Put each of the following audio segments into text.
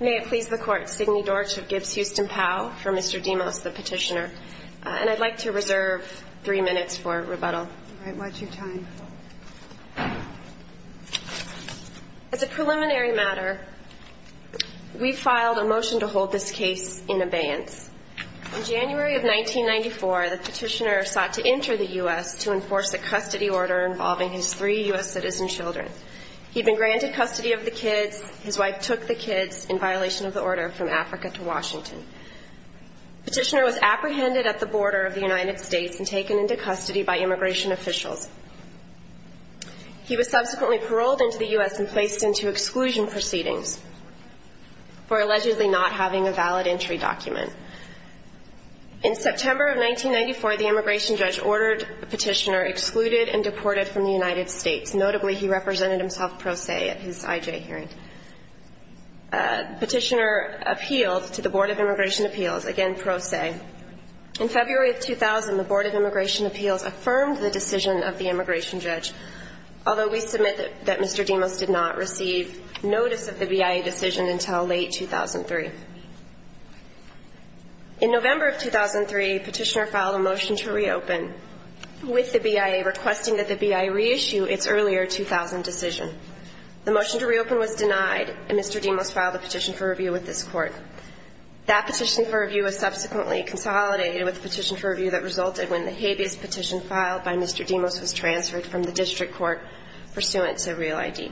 As a preliminary matter, we filed a motion to hold this case in abeyance. In January of 1994, the petitioner sought to enter the U.S. to enforce a custody order involving his three U.S. citizen children. He had been granted custody of the kids. His wife took the kids, in violation of the order, from Africa to Washington. The petitioner was apprehended at the border of the United States and taken into custody by immigration officials. He was subsequently paroled into the U.S. and placed into exclusion proceedings for allegedly not having a valid entry document. In September of 1994, the immigration judge ordered the petitioner excluded and deported from the United States. Notably, he represented himself pro se at his IJ hearing. Petitioner appealed to the Board of Immigration Appeals, again pro se. In February of 2000, the Board of Immigration Appeals affirmed the decision of the immigration judge, although we submit that Mr. Demos did not receive notice of the BIA decision until late 2003. In November of 2003, the petitioner filed a motion to reopen with the BIA, requesting that the BIA reissue its earlier 2000 decision. The motion to reopen was denied, and Mr. Demos filed a petition for review with this Court. That petition for review was subsequently consolidated with the petition for review that resulted when the habeas petition filed by Mr. Demos was transferred from the district court pursuant to Real ID.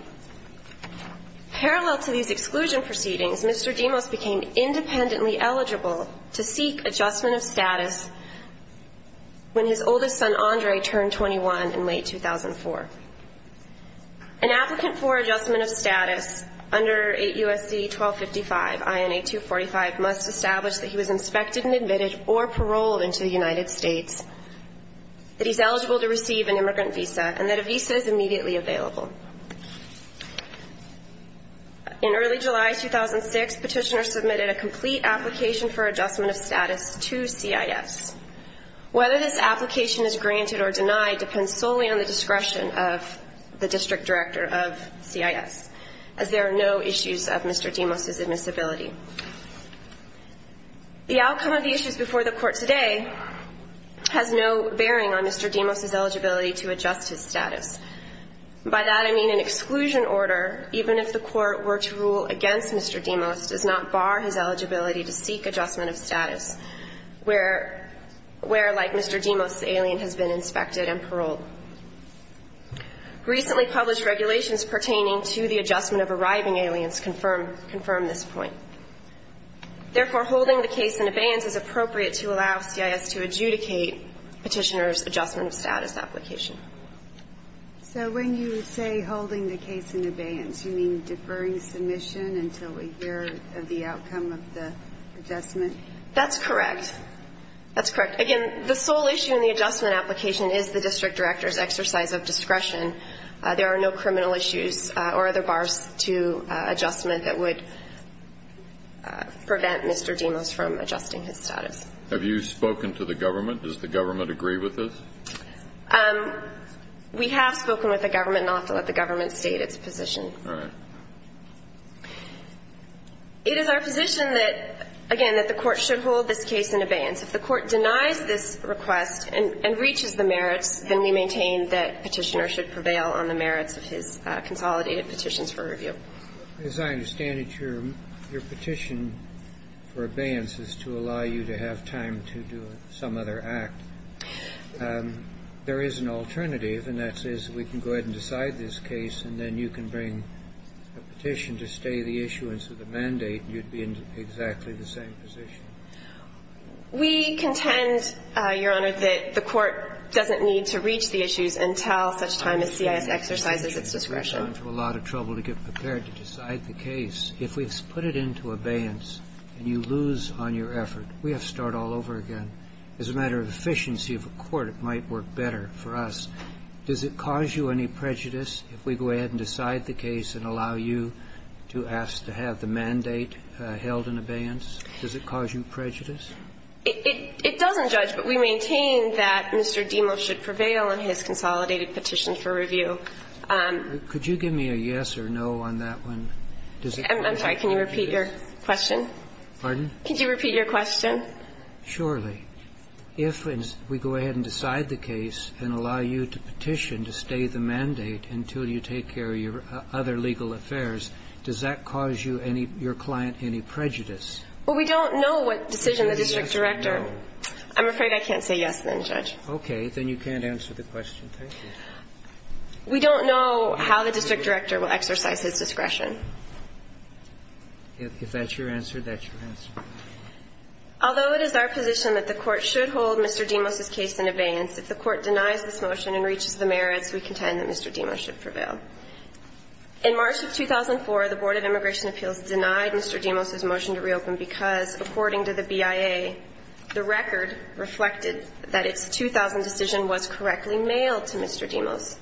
Parallel to these exclusion proceedings, Mr. Demos became independently eligible to seek adjustment of status when his oldest son Andre turned 21 in late 2004. An applicant for adjustment of status under 8 U.S.C. 1255, INA 245, must establish that he was inspected and admitted or paroled into the United States, that he's eligible to receive an immigrant visa, and that a visa is immediately available. In early July 2006, petitioners submitted a complete application for adjustment of status to CIS. Whether this application is granted or denied depends solely on the discretion of the district director of CIS, as there are no issues of the Court today has no bearing on Mr. Demos's eligibility to adjust his status. By that, I mean an exclusion order, even if the Court were to rule against Mr. Demos, does not bar his eligibility to seek adjustment of status where, like Mr. Demos, the alien has been inspected and paroled. Recently published regulations pertaining to the adjustment of arriving aliens confirm this point. Therefore, holding the case in abeyance is appropriate to allow CIS to adjudicate petitioners' adjustment of status application. So when you say holding the case in abeyance, you mean deferring submission until we hear of the outcome of the adjustment? That's correct. That's correct. Again, the sole issue in the adjustment application is the district director's exercise of discretion. There are no criminal issues or other bars to adjustment that would prevent Mr. Demos from adjusting his status. Have you spoken to the government? Does the government agree with this? We have spoken with the government, and I'll have to let the government state its position. All right. It is our position that, again, that the Court should hold this case in abeyance. If the Court denies this request and reaches the merits, then we maintain that petitioners should prevail on the merits of his consolidated petitions for review. As I understand it, your petition for abeyance is to allow you to have time to do some other act. There is an alternative, and that is we can go ahead and decide this case, and then you can bring a petition to stay the issuance of the mandate, and you'd be in exactly the same position. We contend, Your Honor, that the Court doesn't need to reach the issues until such time as CIS exercises its discretion. I'm having a lot of trouble to get prepared to decide the case. If we put it into abeyance and you lose on your effort, we have to start all over again. As a matter of efficiency of the Court, it might work better for us. Does it cause you any prejudice if we go ahead and decide the case and allow you to ask to have the mandate held in abeyance? Does it cause you prejudice? It doesn't judge, but we maintain that Mr. Demos should prevail on his consolidated petition for review. Could you give me a yes or no on that one? I'm sorry. Can you repeat your question? Pardon? Could you repeat your question? Surely. If we go ahead and decide the case and allow you to petition to stay the mandate until you take care of your other legal affairs, does that cause you any – your client any prejudice? Well, we don't know what decision the district director – I'm afraid I can't say yes, then, Judge. Okay. Then you can't answer the question. Thank you. We don't know how the district director will exercise his discretion. If that's your answer, that's your answer. Although it is our position that the Court should hold Mr. Demos's case in abeyance, if the Court denies this motion and reaches the merits, we contend that Mr. Demos should prevail. In March of 2004, the Board of Immigration Appeals denied Mr. Demos's motion to reopen because, according to the BIA, the record reflected that its 2000 decision was correctly mailed to Mr. Demos.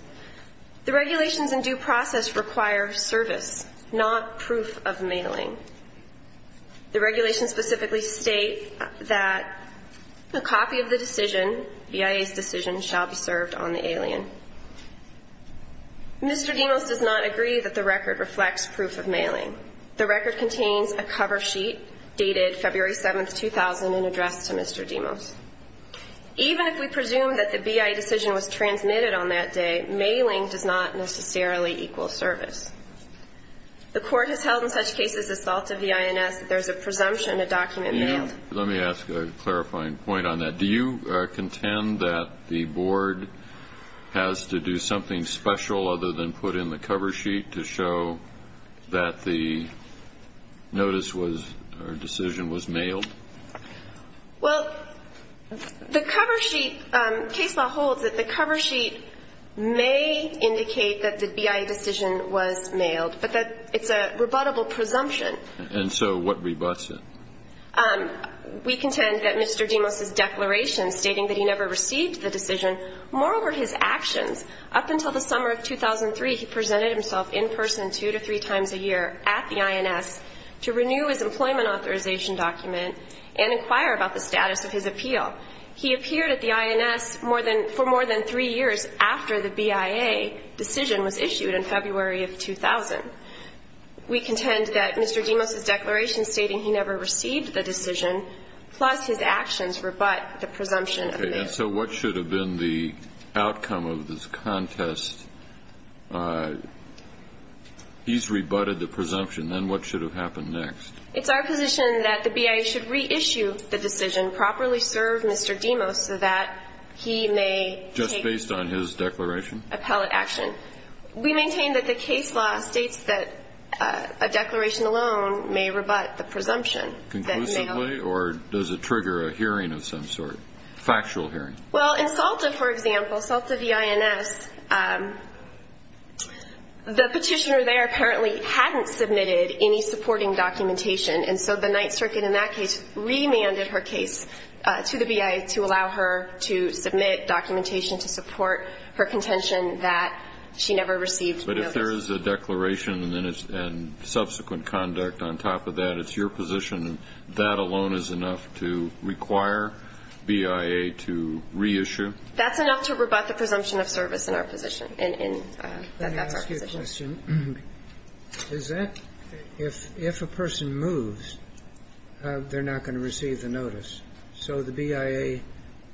The regulations in due process require service, not proof of mailing. The regulations specifically state that a copy of the decision, BIA's decision, shall be served on the alien. Mr. Demos does not agree that the record reflects proof of mailing. The record contains a cover sheet dated February 7, 2000, in address to Mr. Demos. Even if we presume that the BIA decision was transmitted on that day, mailing does not necessarily equal service. The Court has held in such cases as Salta v. INS that there is a presumption a document mailed. Let me ask a clarifying point on that. Do you contend that the Board has to do something special other than put in the cover sheet to show that the notice was or decision was mailed? Well, the cover sheet, case law holds that the cover sheet may indicate that the BIA decision was mailed, but that it's a rebuttable presumption. And so what rebuts it? We contend that Mr. Demos's declaration stating that he never received the decision moreover his actions. Up until the summer of 2003, he presented himself in person two to three times a year at the INS to renew his employment authorization document and inquire about the status of his appeal. He appeared at the INS for more than three years after the BIA decision was issued in February of 2000. We contend that Mr. Demos's declaration stating he never received the decision plus his actions rebut the presumption of mail. So what should have been the outcome of this contest? He's rebutted the presumption. Then what should have happened next? It's our position that the BIA should reissue the decision, properly serve Mr. Demos so that he may take the appellate action. Just based on his declaration? We maintain that the case law states that a declaration alone may rebut the presumption that mail was issued. Well, in Salta, for example, Salta v. INS, the petitioner there apparently hadn't submitted any supporting documentation, and so the Ninth Circuit in that case remanded her case to the BIA to allow her to submit documentation to support her contention that she never received mail. But if there is a declaration and subsequent conduct on top of that, it's your position that that alone is enough to require BIA to reissue? That's enough to rebut the presumption of service in our position, and that's our position. Can I ask you a question? If a person moves, they're not going to receive the notice. So the BIA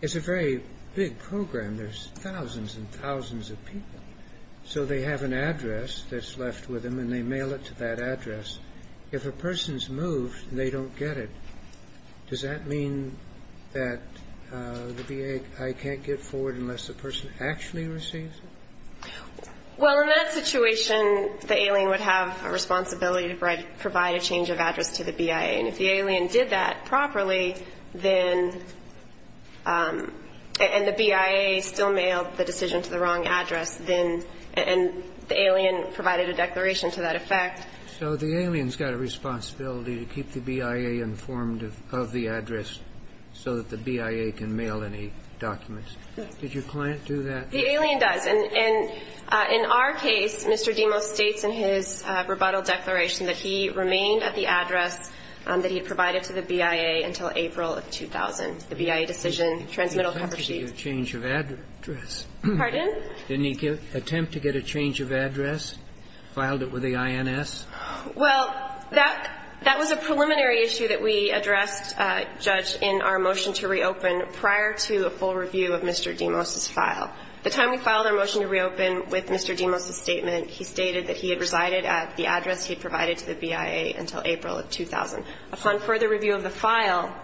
is a very big program. There's thousands and thousands of people. So they have an address that's left with them, and they mail it to that address. If a person's moved and they don't get it, does that mean that the BIA can't get forward unless the person actually receives it? Well, in that situation, the alien would have a responsibility to provide a change of address to the BIA. And if the alien did that properly, then the BIA still mailed the decision to the wrong address, then the alien provided a declaration to that effect. So the alien's got a responsibility to keep the BIA informed of the address so that the BIA can mail any documents. Did your client do that? The alien does. And in our case, Mr. Demos states in his rebuttal declaration that he remained at the address that he provided to the BIA until April of 2000, the BIA decision, transmittal cover sheet. He attempted to get a change of address. Pardon? Didn't he attempt to get a change of address, filed it with the INS? Well, that was a preliminary issue that we addressed, Judge, in our motion to reopen prior to a full review of Mr. Demos's file. The time we filed our motion to reopen with Mr. Demos's statement, he stated that he had resided at the address he provided to the BIA until April of 2000. Upon further review of the file,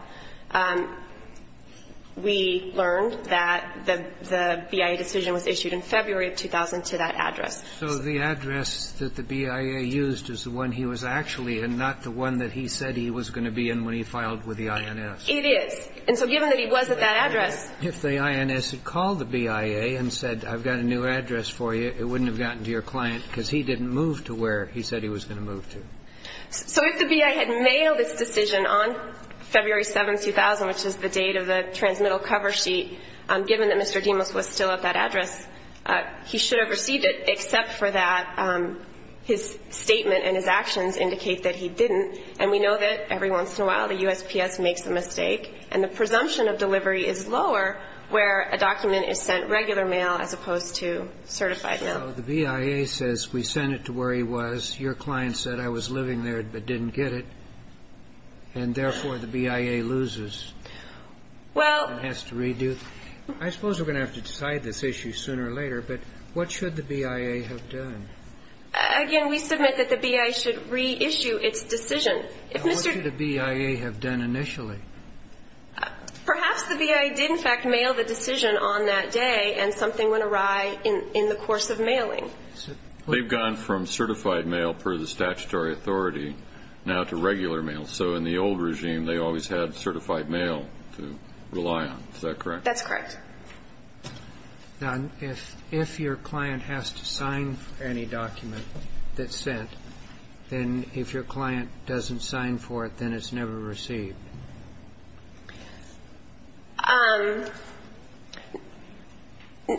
we learned that the BIA decision was issued in February of 2000 to that address. So the address that the BIA used is the one he was actually in, not the one that he said he was going to be in when he filed with the INS. It is. And so given that he was at that address If the INS had called the BIA and said, I've got a new address for you, it wouldn't have gotten to your client because he didn't move to where he said he was going to move to. So if the BIA had mailed this decision on February 7, 2000, which is the date of the transmittal cover sheet, given that Mr. Demos was still at that address, he should have received it, except for that his statement and his actions indicate that he didn't. And we know that every once in a while the USPS makes a mistake, and the presumption of delivery is lower where a document is sent regular mail as opposed to certified mail. So the BIA says we sent it to where he was. Your client said I was living there but didn't get it. And therefore, the BIA loses and has to redo. I suppose we're going to have to decide this issue sooner or later, but what should the BIA have done? Again, we submit that the BIA should reissue its decision. What should the BIA have done initially? Perhaps the BIA did in fact mail the decision on that day and something went awry in the course of mailing. They've gone from certified mail per the statutory authority now to regular mail. So in the old regime, they always had certified mail to rely on. Is that correct? That's correct. Now, if your client has to sign any document that's sent, then if your client doesn't sign for it, then it's never received.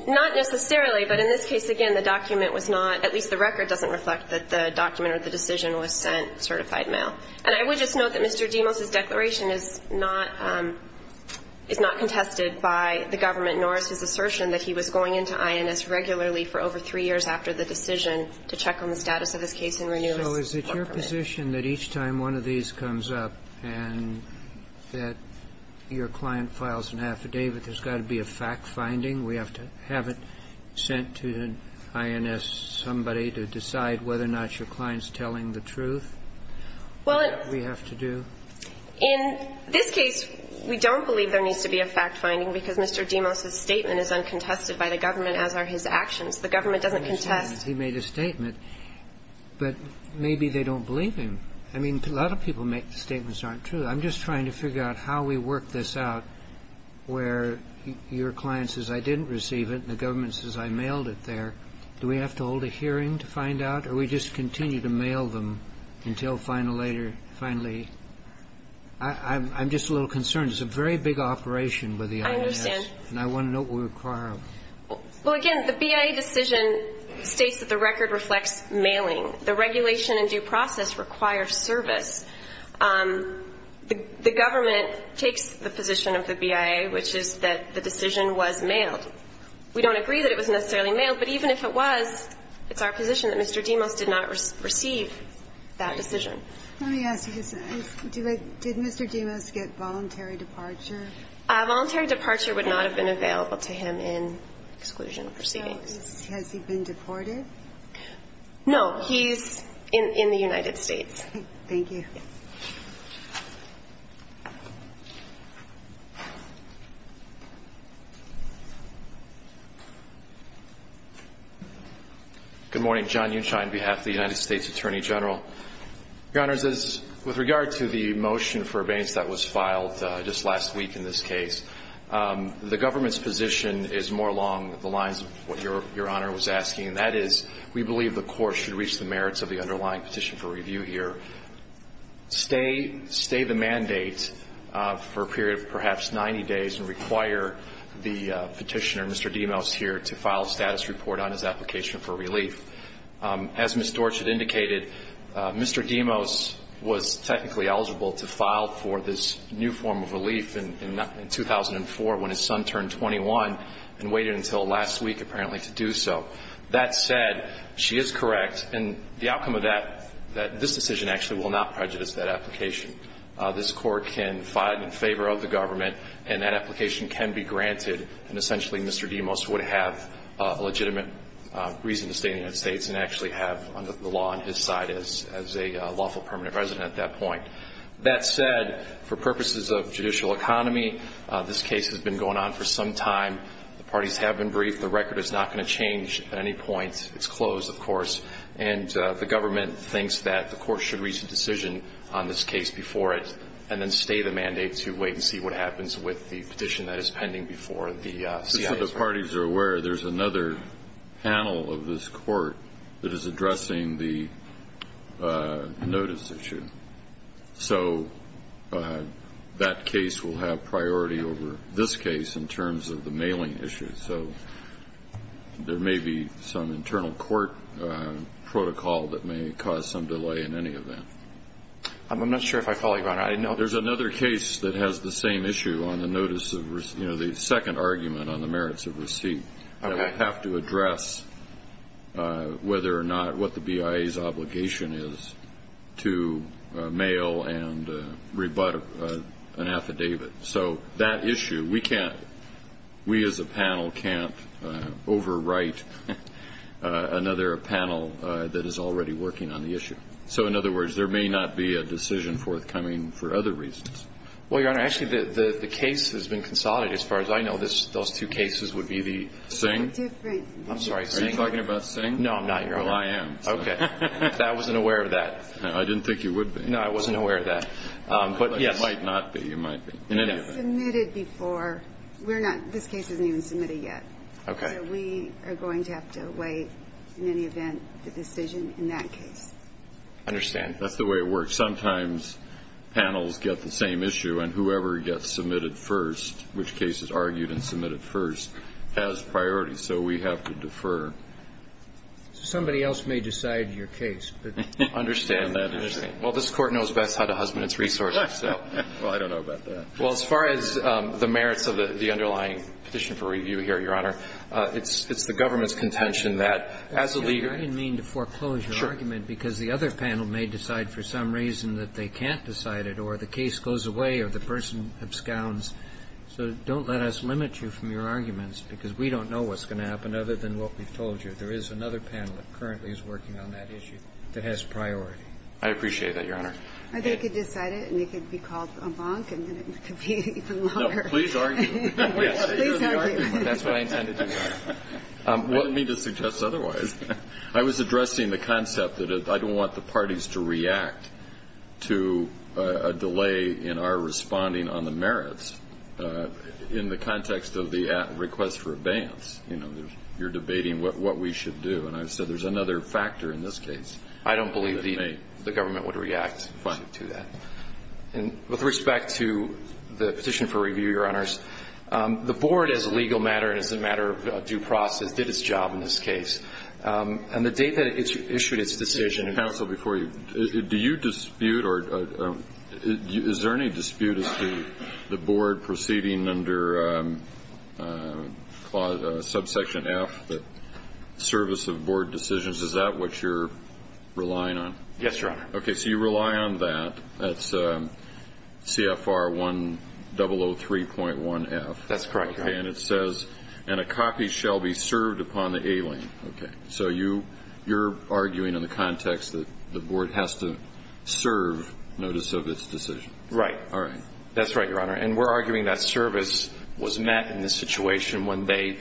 Not necessarily, but in this case, again, the document was not, at least the record doesn't reflect that the document or the decision was sent certified mail. And I would just note that Mr. Deimos' declaration is not contested by the government nor is his assertion that he was going into INS regularly for over three years after the decision to check on the status of his case and renew his. So is it your position that each time one of these comes up and that your client files an affidavit, there's got to be a fact-finding? We have to have it sent to an INS somebody to decide whether or not your client's telling the truth? Well, it's In this case, we don't believe there needs to be a fact-finding because Mr. Deimos' statement is uncontested by the government, as are his actions. The government doesn't contest. He made a statement, but maybe they don't believe him. I mean, a lot of people make statements that aren't true. I'm just trying to figure out how we work this out where your client says, I didn't receive it, and the government says, I mailed it there. Do we have to hold a hearing to find out, or we just continue to mail them until finally, I'm just a little concerned. It's a very big operation with the INS. I understand. And I want to know what we require of them. Well, again, the BIA decision states that the record reflects mailing. The regulation and due process require service. The government takes the position of the BIA, which is that the decision was mailed. We don't agree that it was necessarily mailed, but even if it was, it's our position that Mr. Deimos did not receive that decision. Let me ask you this. Did Mr. Deimos get voluntary departure? Voluntary departure would not have been available to him in exclusion of proceedings. Has he been deported? No, he's in the United States. Thank you. Good morning, John Unshine, behalf of the United States Attorney General. Your Honors, with regard to the motion for abatement that was filed just last week in this case, the government's position is more along the lines of what Your Honor was asking. And that is, we believe the court should reach the merits of the underlying petition for review here, stay the mandate for a period of perhaps 90 days, and require the petitioner, Mr. Deimos, here to file a status report on his application for relief. As Ms. Dorchert indicated, Mr. Deimos was technically eligible to file for this new form of relief in 2004 when his son turned 21 and waited until last week, apparently, to do so. That said, she is correct, and the outcome of this decision actually will not prejudice that application. This court can file it in favor of the government, and that application can be granted, and essentially, Mr. Deimos would have a legitimate reason to stay in the United States and actually have the law on his side as a lawful permanent resident at that point. That said, for purposes of judicial economy, this case has been going on for some time. The parties have been briefed. The record is not going to change at any point. It's closed, of course. And the government thinks that the court should reach a decision on this case before it, and then stay the mandate to wait and see what happens with the petition that is pending before the CIA's- As the parties are aware, there's another panel of this court that is addressing the notice issue. So that case will have priority over this case in terms of the mailing issues. So there may be some internal court protocol that may cause some delay in any event. I'm not sure if I follow you, Your Honor. There's another case that has the same issue on the notice of, you know, the second argument on the merits of receipt. I have to address whether or not what the BIA's obligation is to mail and rebut an affidavit. So that issue, we can't, we as a panel can't overwrite another panel that is already working on the issue. So in other words, there may not be a decision forthcoming for other reasons. Well, Your Honor, actually the case has been consolidated as far as I know. Those two cases would be the- Singh? Different- I'm sorry, Singh. Are you talking about Singh? No, I'm not, Your Honor. Well, I am. Okay. I wasn't aware of that. I didn't think you would be. No, I wasn't aware of that. But yes- You might not be. You might be. In any event- It's submitted before. We're not, this case isn't even submitted yet. Okay. So we are going to have to wait in any event for the decision in that case. I understand. That's the way it works. Sometimes panels get the same issue, and whoever gets submitted first, which case is argued and submitted first, has priority. So we have to defer. Somebody else may decide your case, but- I understand that. Well, this Court knows best how to husband its resources, so- Well, I don't know about that. Well, as far as the merits of the underlying petition for review here, Your Honor, it's the government's contention that as a leader- you know, we're going to have to do something about this, because there's a reason that they can't decide it, or the case goes away, or the person scowns. So don't let us limit you from your arguments, because we don't know what's going to happen, other than what we've told you. There is another panel that currently is working on that issue that has priority. I appreciate that, Your Honor. I think you could decide it, and it could be called a bonk, and it could be even longer. No, please argue. Please argue. That's what I intend to do, Your Honor. I don't mean to suggest otherwise. I was addressing the concept that I don't want the parties to react to a delay in our responding on the merits in the context of the request for abeyance. You know, you're debating what we should do, and I said there's another factor in this case. I don't believe the government would react to that. And with respect to the petition for review, Your Honors, the board, as a legal matter and as a matter of due process, did its job in this case. And the date that it issued its decision- Counsel, before you, do you dispute, or is there any dispute as to the board proceeding under subsection F, the service of board decisions? Is that what you're relying on? Yes, Your Honor. Okay, so you rely on that. That's CFR 1003.1F. That's correct, Your Honor. And it says, and a copy shall be served upon the alien. Okay, so you're arguing in the context that the board has to serve notice of its decision. Right. All right. That's right, Your Honor. And we're arguing that service was met in the situation when they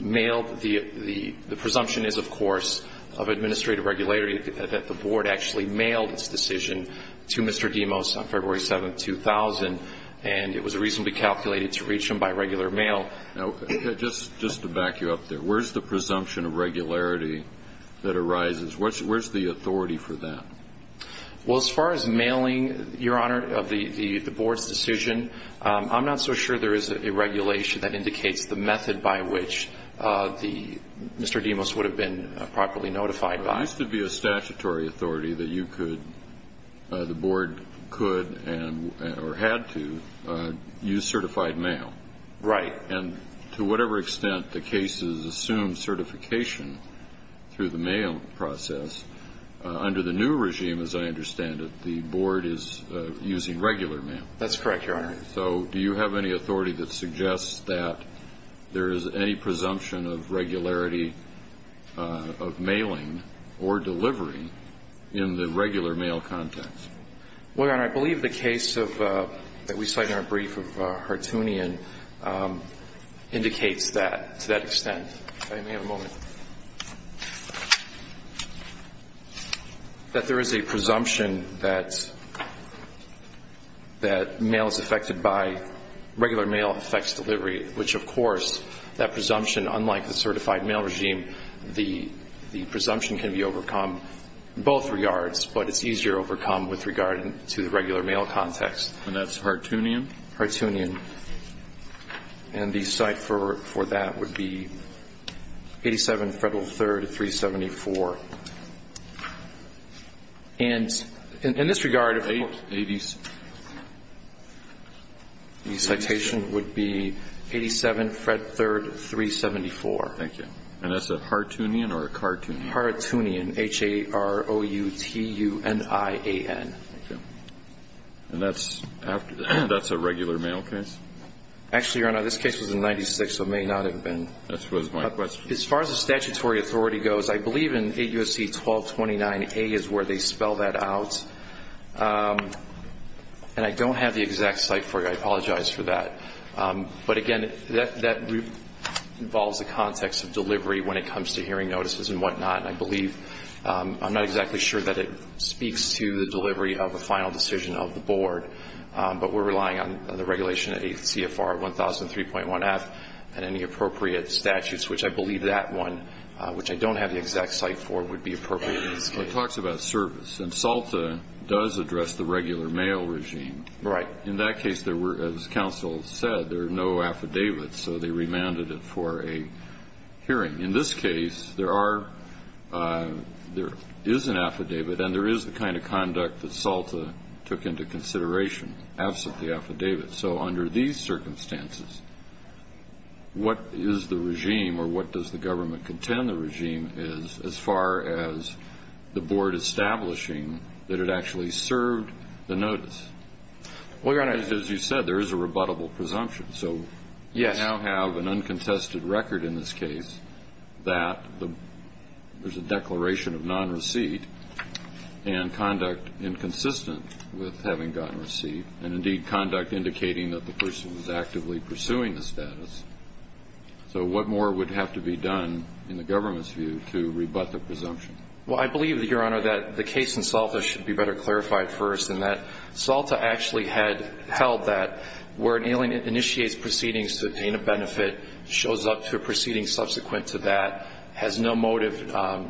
mailed the presumption is, of course, of administrative regularity, that the board actually mailed its decision to Mr. Demos on February 7, 2000, and it was reasonably calculated to reach him by regular mail. Now, just to back you up there, where's the presumption of regularity that arises? Where's the authority for that? Well, as far as mailing, Your Honor, of the board's decision, I'm not so sure there is a regulation that indicates the method by which Mr. Demos would have been properly notified by. There used to be a statutory authority that you could, the board could, or had to, use certified mail. Right. And to whatever extent the cases assume certification through the mail process, under the new regime, as I understand it, the board is using regular mail. That's correct, Your Honor. So do you have any authority that suggests that there is any presumption of regularity of mailing or delivery in the regular mail context? Well, Your Honor, I believe the case of, that we cite in our brief of Hartoonian, indicates that, to that extent, if I may have a moment, that there is a presumption that mail is affected by regular mail effects delivery, which, of course, that presumption, unlike the certified mail regime, the presumption can be overcome in both regards, but it's easier overcome with regard to the regular mail context. And that's Hartoonian? Hartoonian. And the cite for that would be 87 Federal 3rd 374. And in this regard, of course, the citation would be 87 Fred 3rd 374. Thank you. And that's a Hartoonian or a Cartoonian? Hartoonian, H-A-R-O-U-T-U-N-I-A-N. Thank you. And that's after, that's a regular mail case? Actually, Your Honor, this case was in 96, so it may not have been. That was my question. As far as the statutory authority goes, I believe in 8 U.S.C. 1229A is where they spell that out, and I don't have the exact cite for you, I apologize for that. But again, that involves the context of delivery when it comes to hearing notices and whatnot. And I believe, I'm not exactly sure that it speaks to the delivery of a final decision of the board, but we're relying on the regulation 8 CFR 1003.1F and any appropriate statutes, which I believe that one, which I don't have the exact cite for, would be appropriate in this case. It talks about service, and SALTA does address the regular mail regime. Right. In that case, there were, as counsel said, there are no affidavits, so they remanded it for a hearing. In this case, there are, there is an affidavit, and there is the kind of conduct that SALTA took into consideration, absent the affidavit. So under these circumstances, what is the regime, or what does the government contend the regime is as far as the board establishing that it actually served the notice? Well, Your Honor. As you said, there is a rebuttable presumption. So you now have an uncontested record in this case that there's a declaration of non-receipt and conduct inconsistent with having gotten receipt, and indeed, conduct indicating that the person was actively pursuing the status. So what more would have to be done in the government's view to rebut the presumption? Well, I believe, Your Honor, that the case in SALTA should be better clarified first, and that SALTA actually had held that where an alien initiates proceedings to obtain a benefit, shows up to a proceeding subsequent to that, has no motive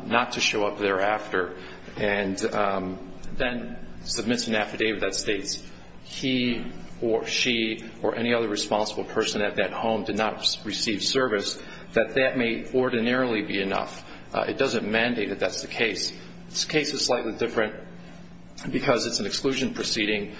not to show up thereafter, and then submits an affidavit that states he or she or any other responsible person at that home did not receive service, that that may ordinarily be enough. It doesn't mandate that that's the case. This case is slightly different because it's an exclusion proceeding.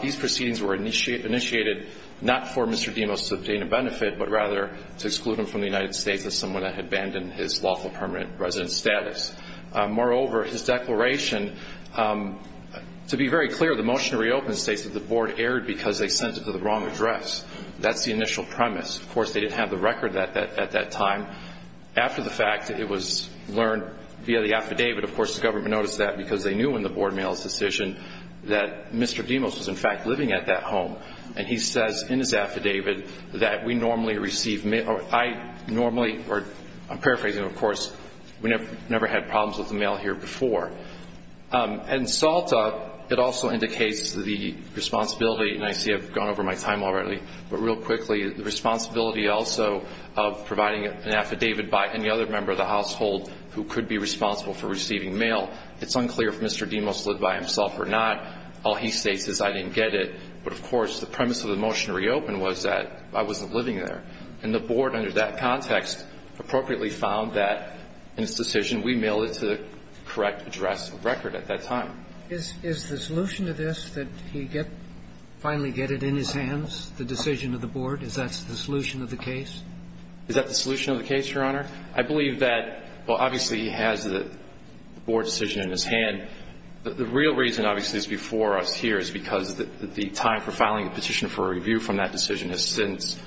These proceedings were initiated not for Mr. Demos to obtain a benefit, but rather to exclude him from the United States as someone that had abandoned his lawful permanent residence status. Moreover, his declaration, to be very clear, the motion to reopen states that the board erred because they sent it to the wrong address. That's the initial premise. Of course, they didn't have the record at that time. After the fact, it was learned via the affidavit, of course, the government noticed that because they knew in the board mail's decision that Mr. Demos was, in fact, living at that home. And he says in his affidavit that we normally receive mail, or I normally, or I'm paraphrasing, of course, we never had problems with the mail here before. In SALTA, it also indicates the responsibility, and I see I've gone over my time already, but real quickly, the responsibility also of providing an affidavit by any other member of the household who could be responsible for receiving mail. It's unclear if Mr. Demos lived by himself or not. All he states is I didn't get it. But, of course, the premise of the motion to reopen was that I wasn't living there. And the board, under that context, appropriately found that in its decision we mailed it to the correct address of record at that time. Is the solution to this that he finally get it in his hands, the decision of the board, is that the solution of the case? Is that the solution of the case, Your Honor? I believe that, well, obviously, he has the board decision in his hand. And the real reason, obviously, is before us here is because the time for filing a petition for a review from that decision has since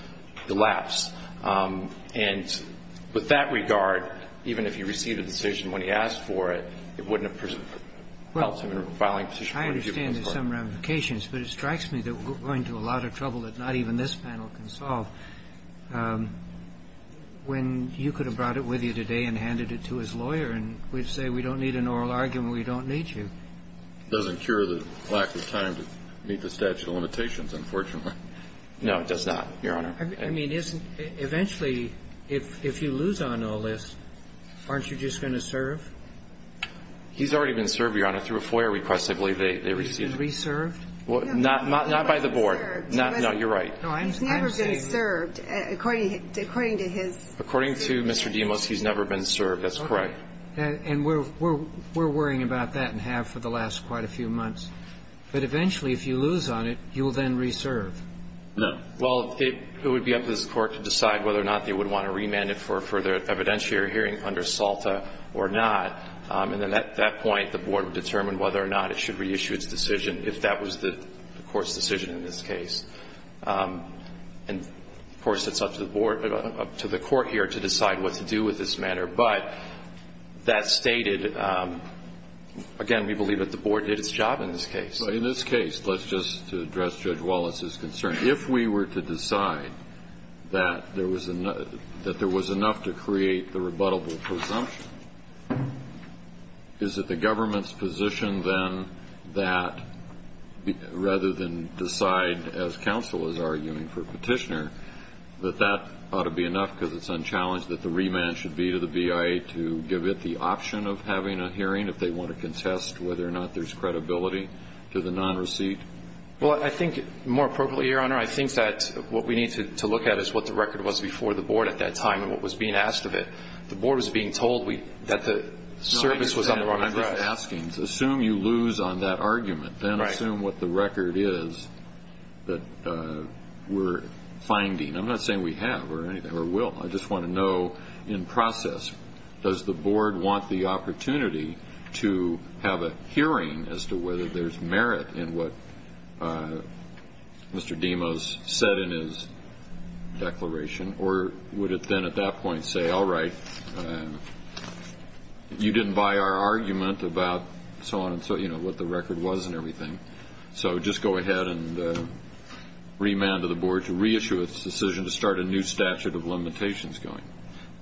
elapsed. And with that regard, even if he received a decision when he asked for it, it wouldn't have helped him in filing a petition for a review. I understand there's some ramifications, but it strikes me that we're going to a lot of trouble that not even this panel can solve. When you could have brought it with you today and handed it to his lawyer and we'd say we don't need an oral argument, we don't need you. It doesn't cure the lack of time to meet the statute of limitations, unfortunately. No, it does not, Your Honor. I mean, isn't – eventually, if you lose on OLS, aren't you just going to serve? He's already been served, Your Honor, through a FOIA request, I believe they received. Reserved? Not by the board. No, you're right. He's never been served, according to his – According to Mr. Demos, he's never been served. That's correct. And we're worrying about that and have for the last quite a few months. But eventually, if you lose on it, you will then reserve. No. Well, it would be up to this Court to decide whether or not they would want to remand it for a further evidentiary hearing under SALTA or not. And then at that point, the board would determine whether or not it should reissue its decision if that was the Court's decision in this case. And, of course, it's up to the board – up to the Court here to decide what to do with this matter. But that stated – again, we believe that the board did its job in this case. In this case, let's just address Judge Wallace's concern. If we were to decide that there was – that there was enough to create the rebuttable presumption, is it the government's position then that rather than decide, as counsel is arguing for Petitioner, that that ought to be enough because it's unchallenged that the remand should be to the BIA to give it the option of having a hearing if they want to contest whether or not there's credibility to the non-receipt? Well, I think more appropriately, Your Honor, I think that what we need to look at is what the record was before the board at that time and what was being asked of it. The board was being told that the service was on the wrong address. No, I understand what you're asking. Assume you lose on that argument. Then assume what the record is that we're finding. I'm not saying we have or anything – or will. I just want to know, in process, does the board want the opportunity to have a hearing as to whether there's merit in what Mr. Demos said in his declaration, or would it then at that point say, all right, you didn't buy our argument about so on and so – you know, what the record was and everything, so just go ahead and remand to the board to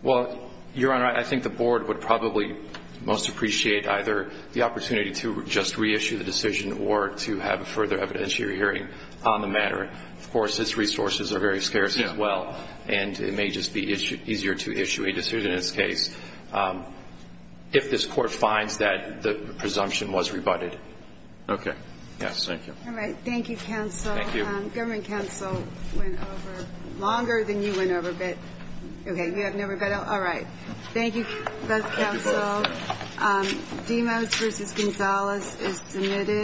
Well, Your Honor, I think the board would probably most appreciate either the opportunity to just reissue the decision or to have further evidentiary hearing on the matter. Of course, its resources are very scarce as well, and it may just be easier to issue a decision in this case if this Court finds that the presumption was rebutted. Okay. Yes. All right. Thank you, counsel. Thank you. Government counsel went over longer than you went over, but – okay. You have no rebuttal? All right. Thank you, both counsel. Demos v. Gonzalez is submitted.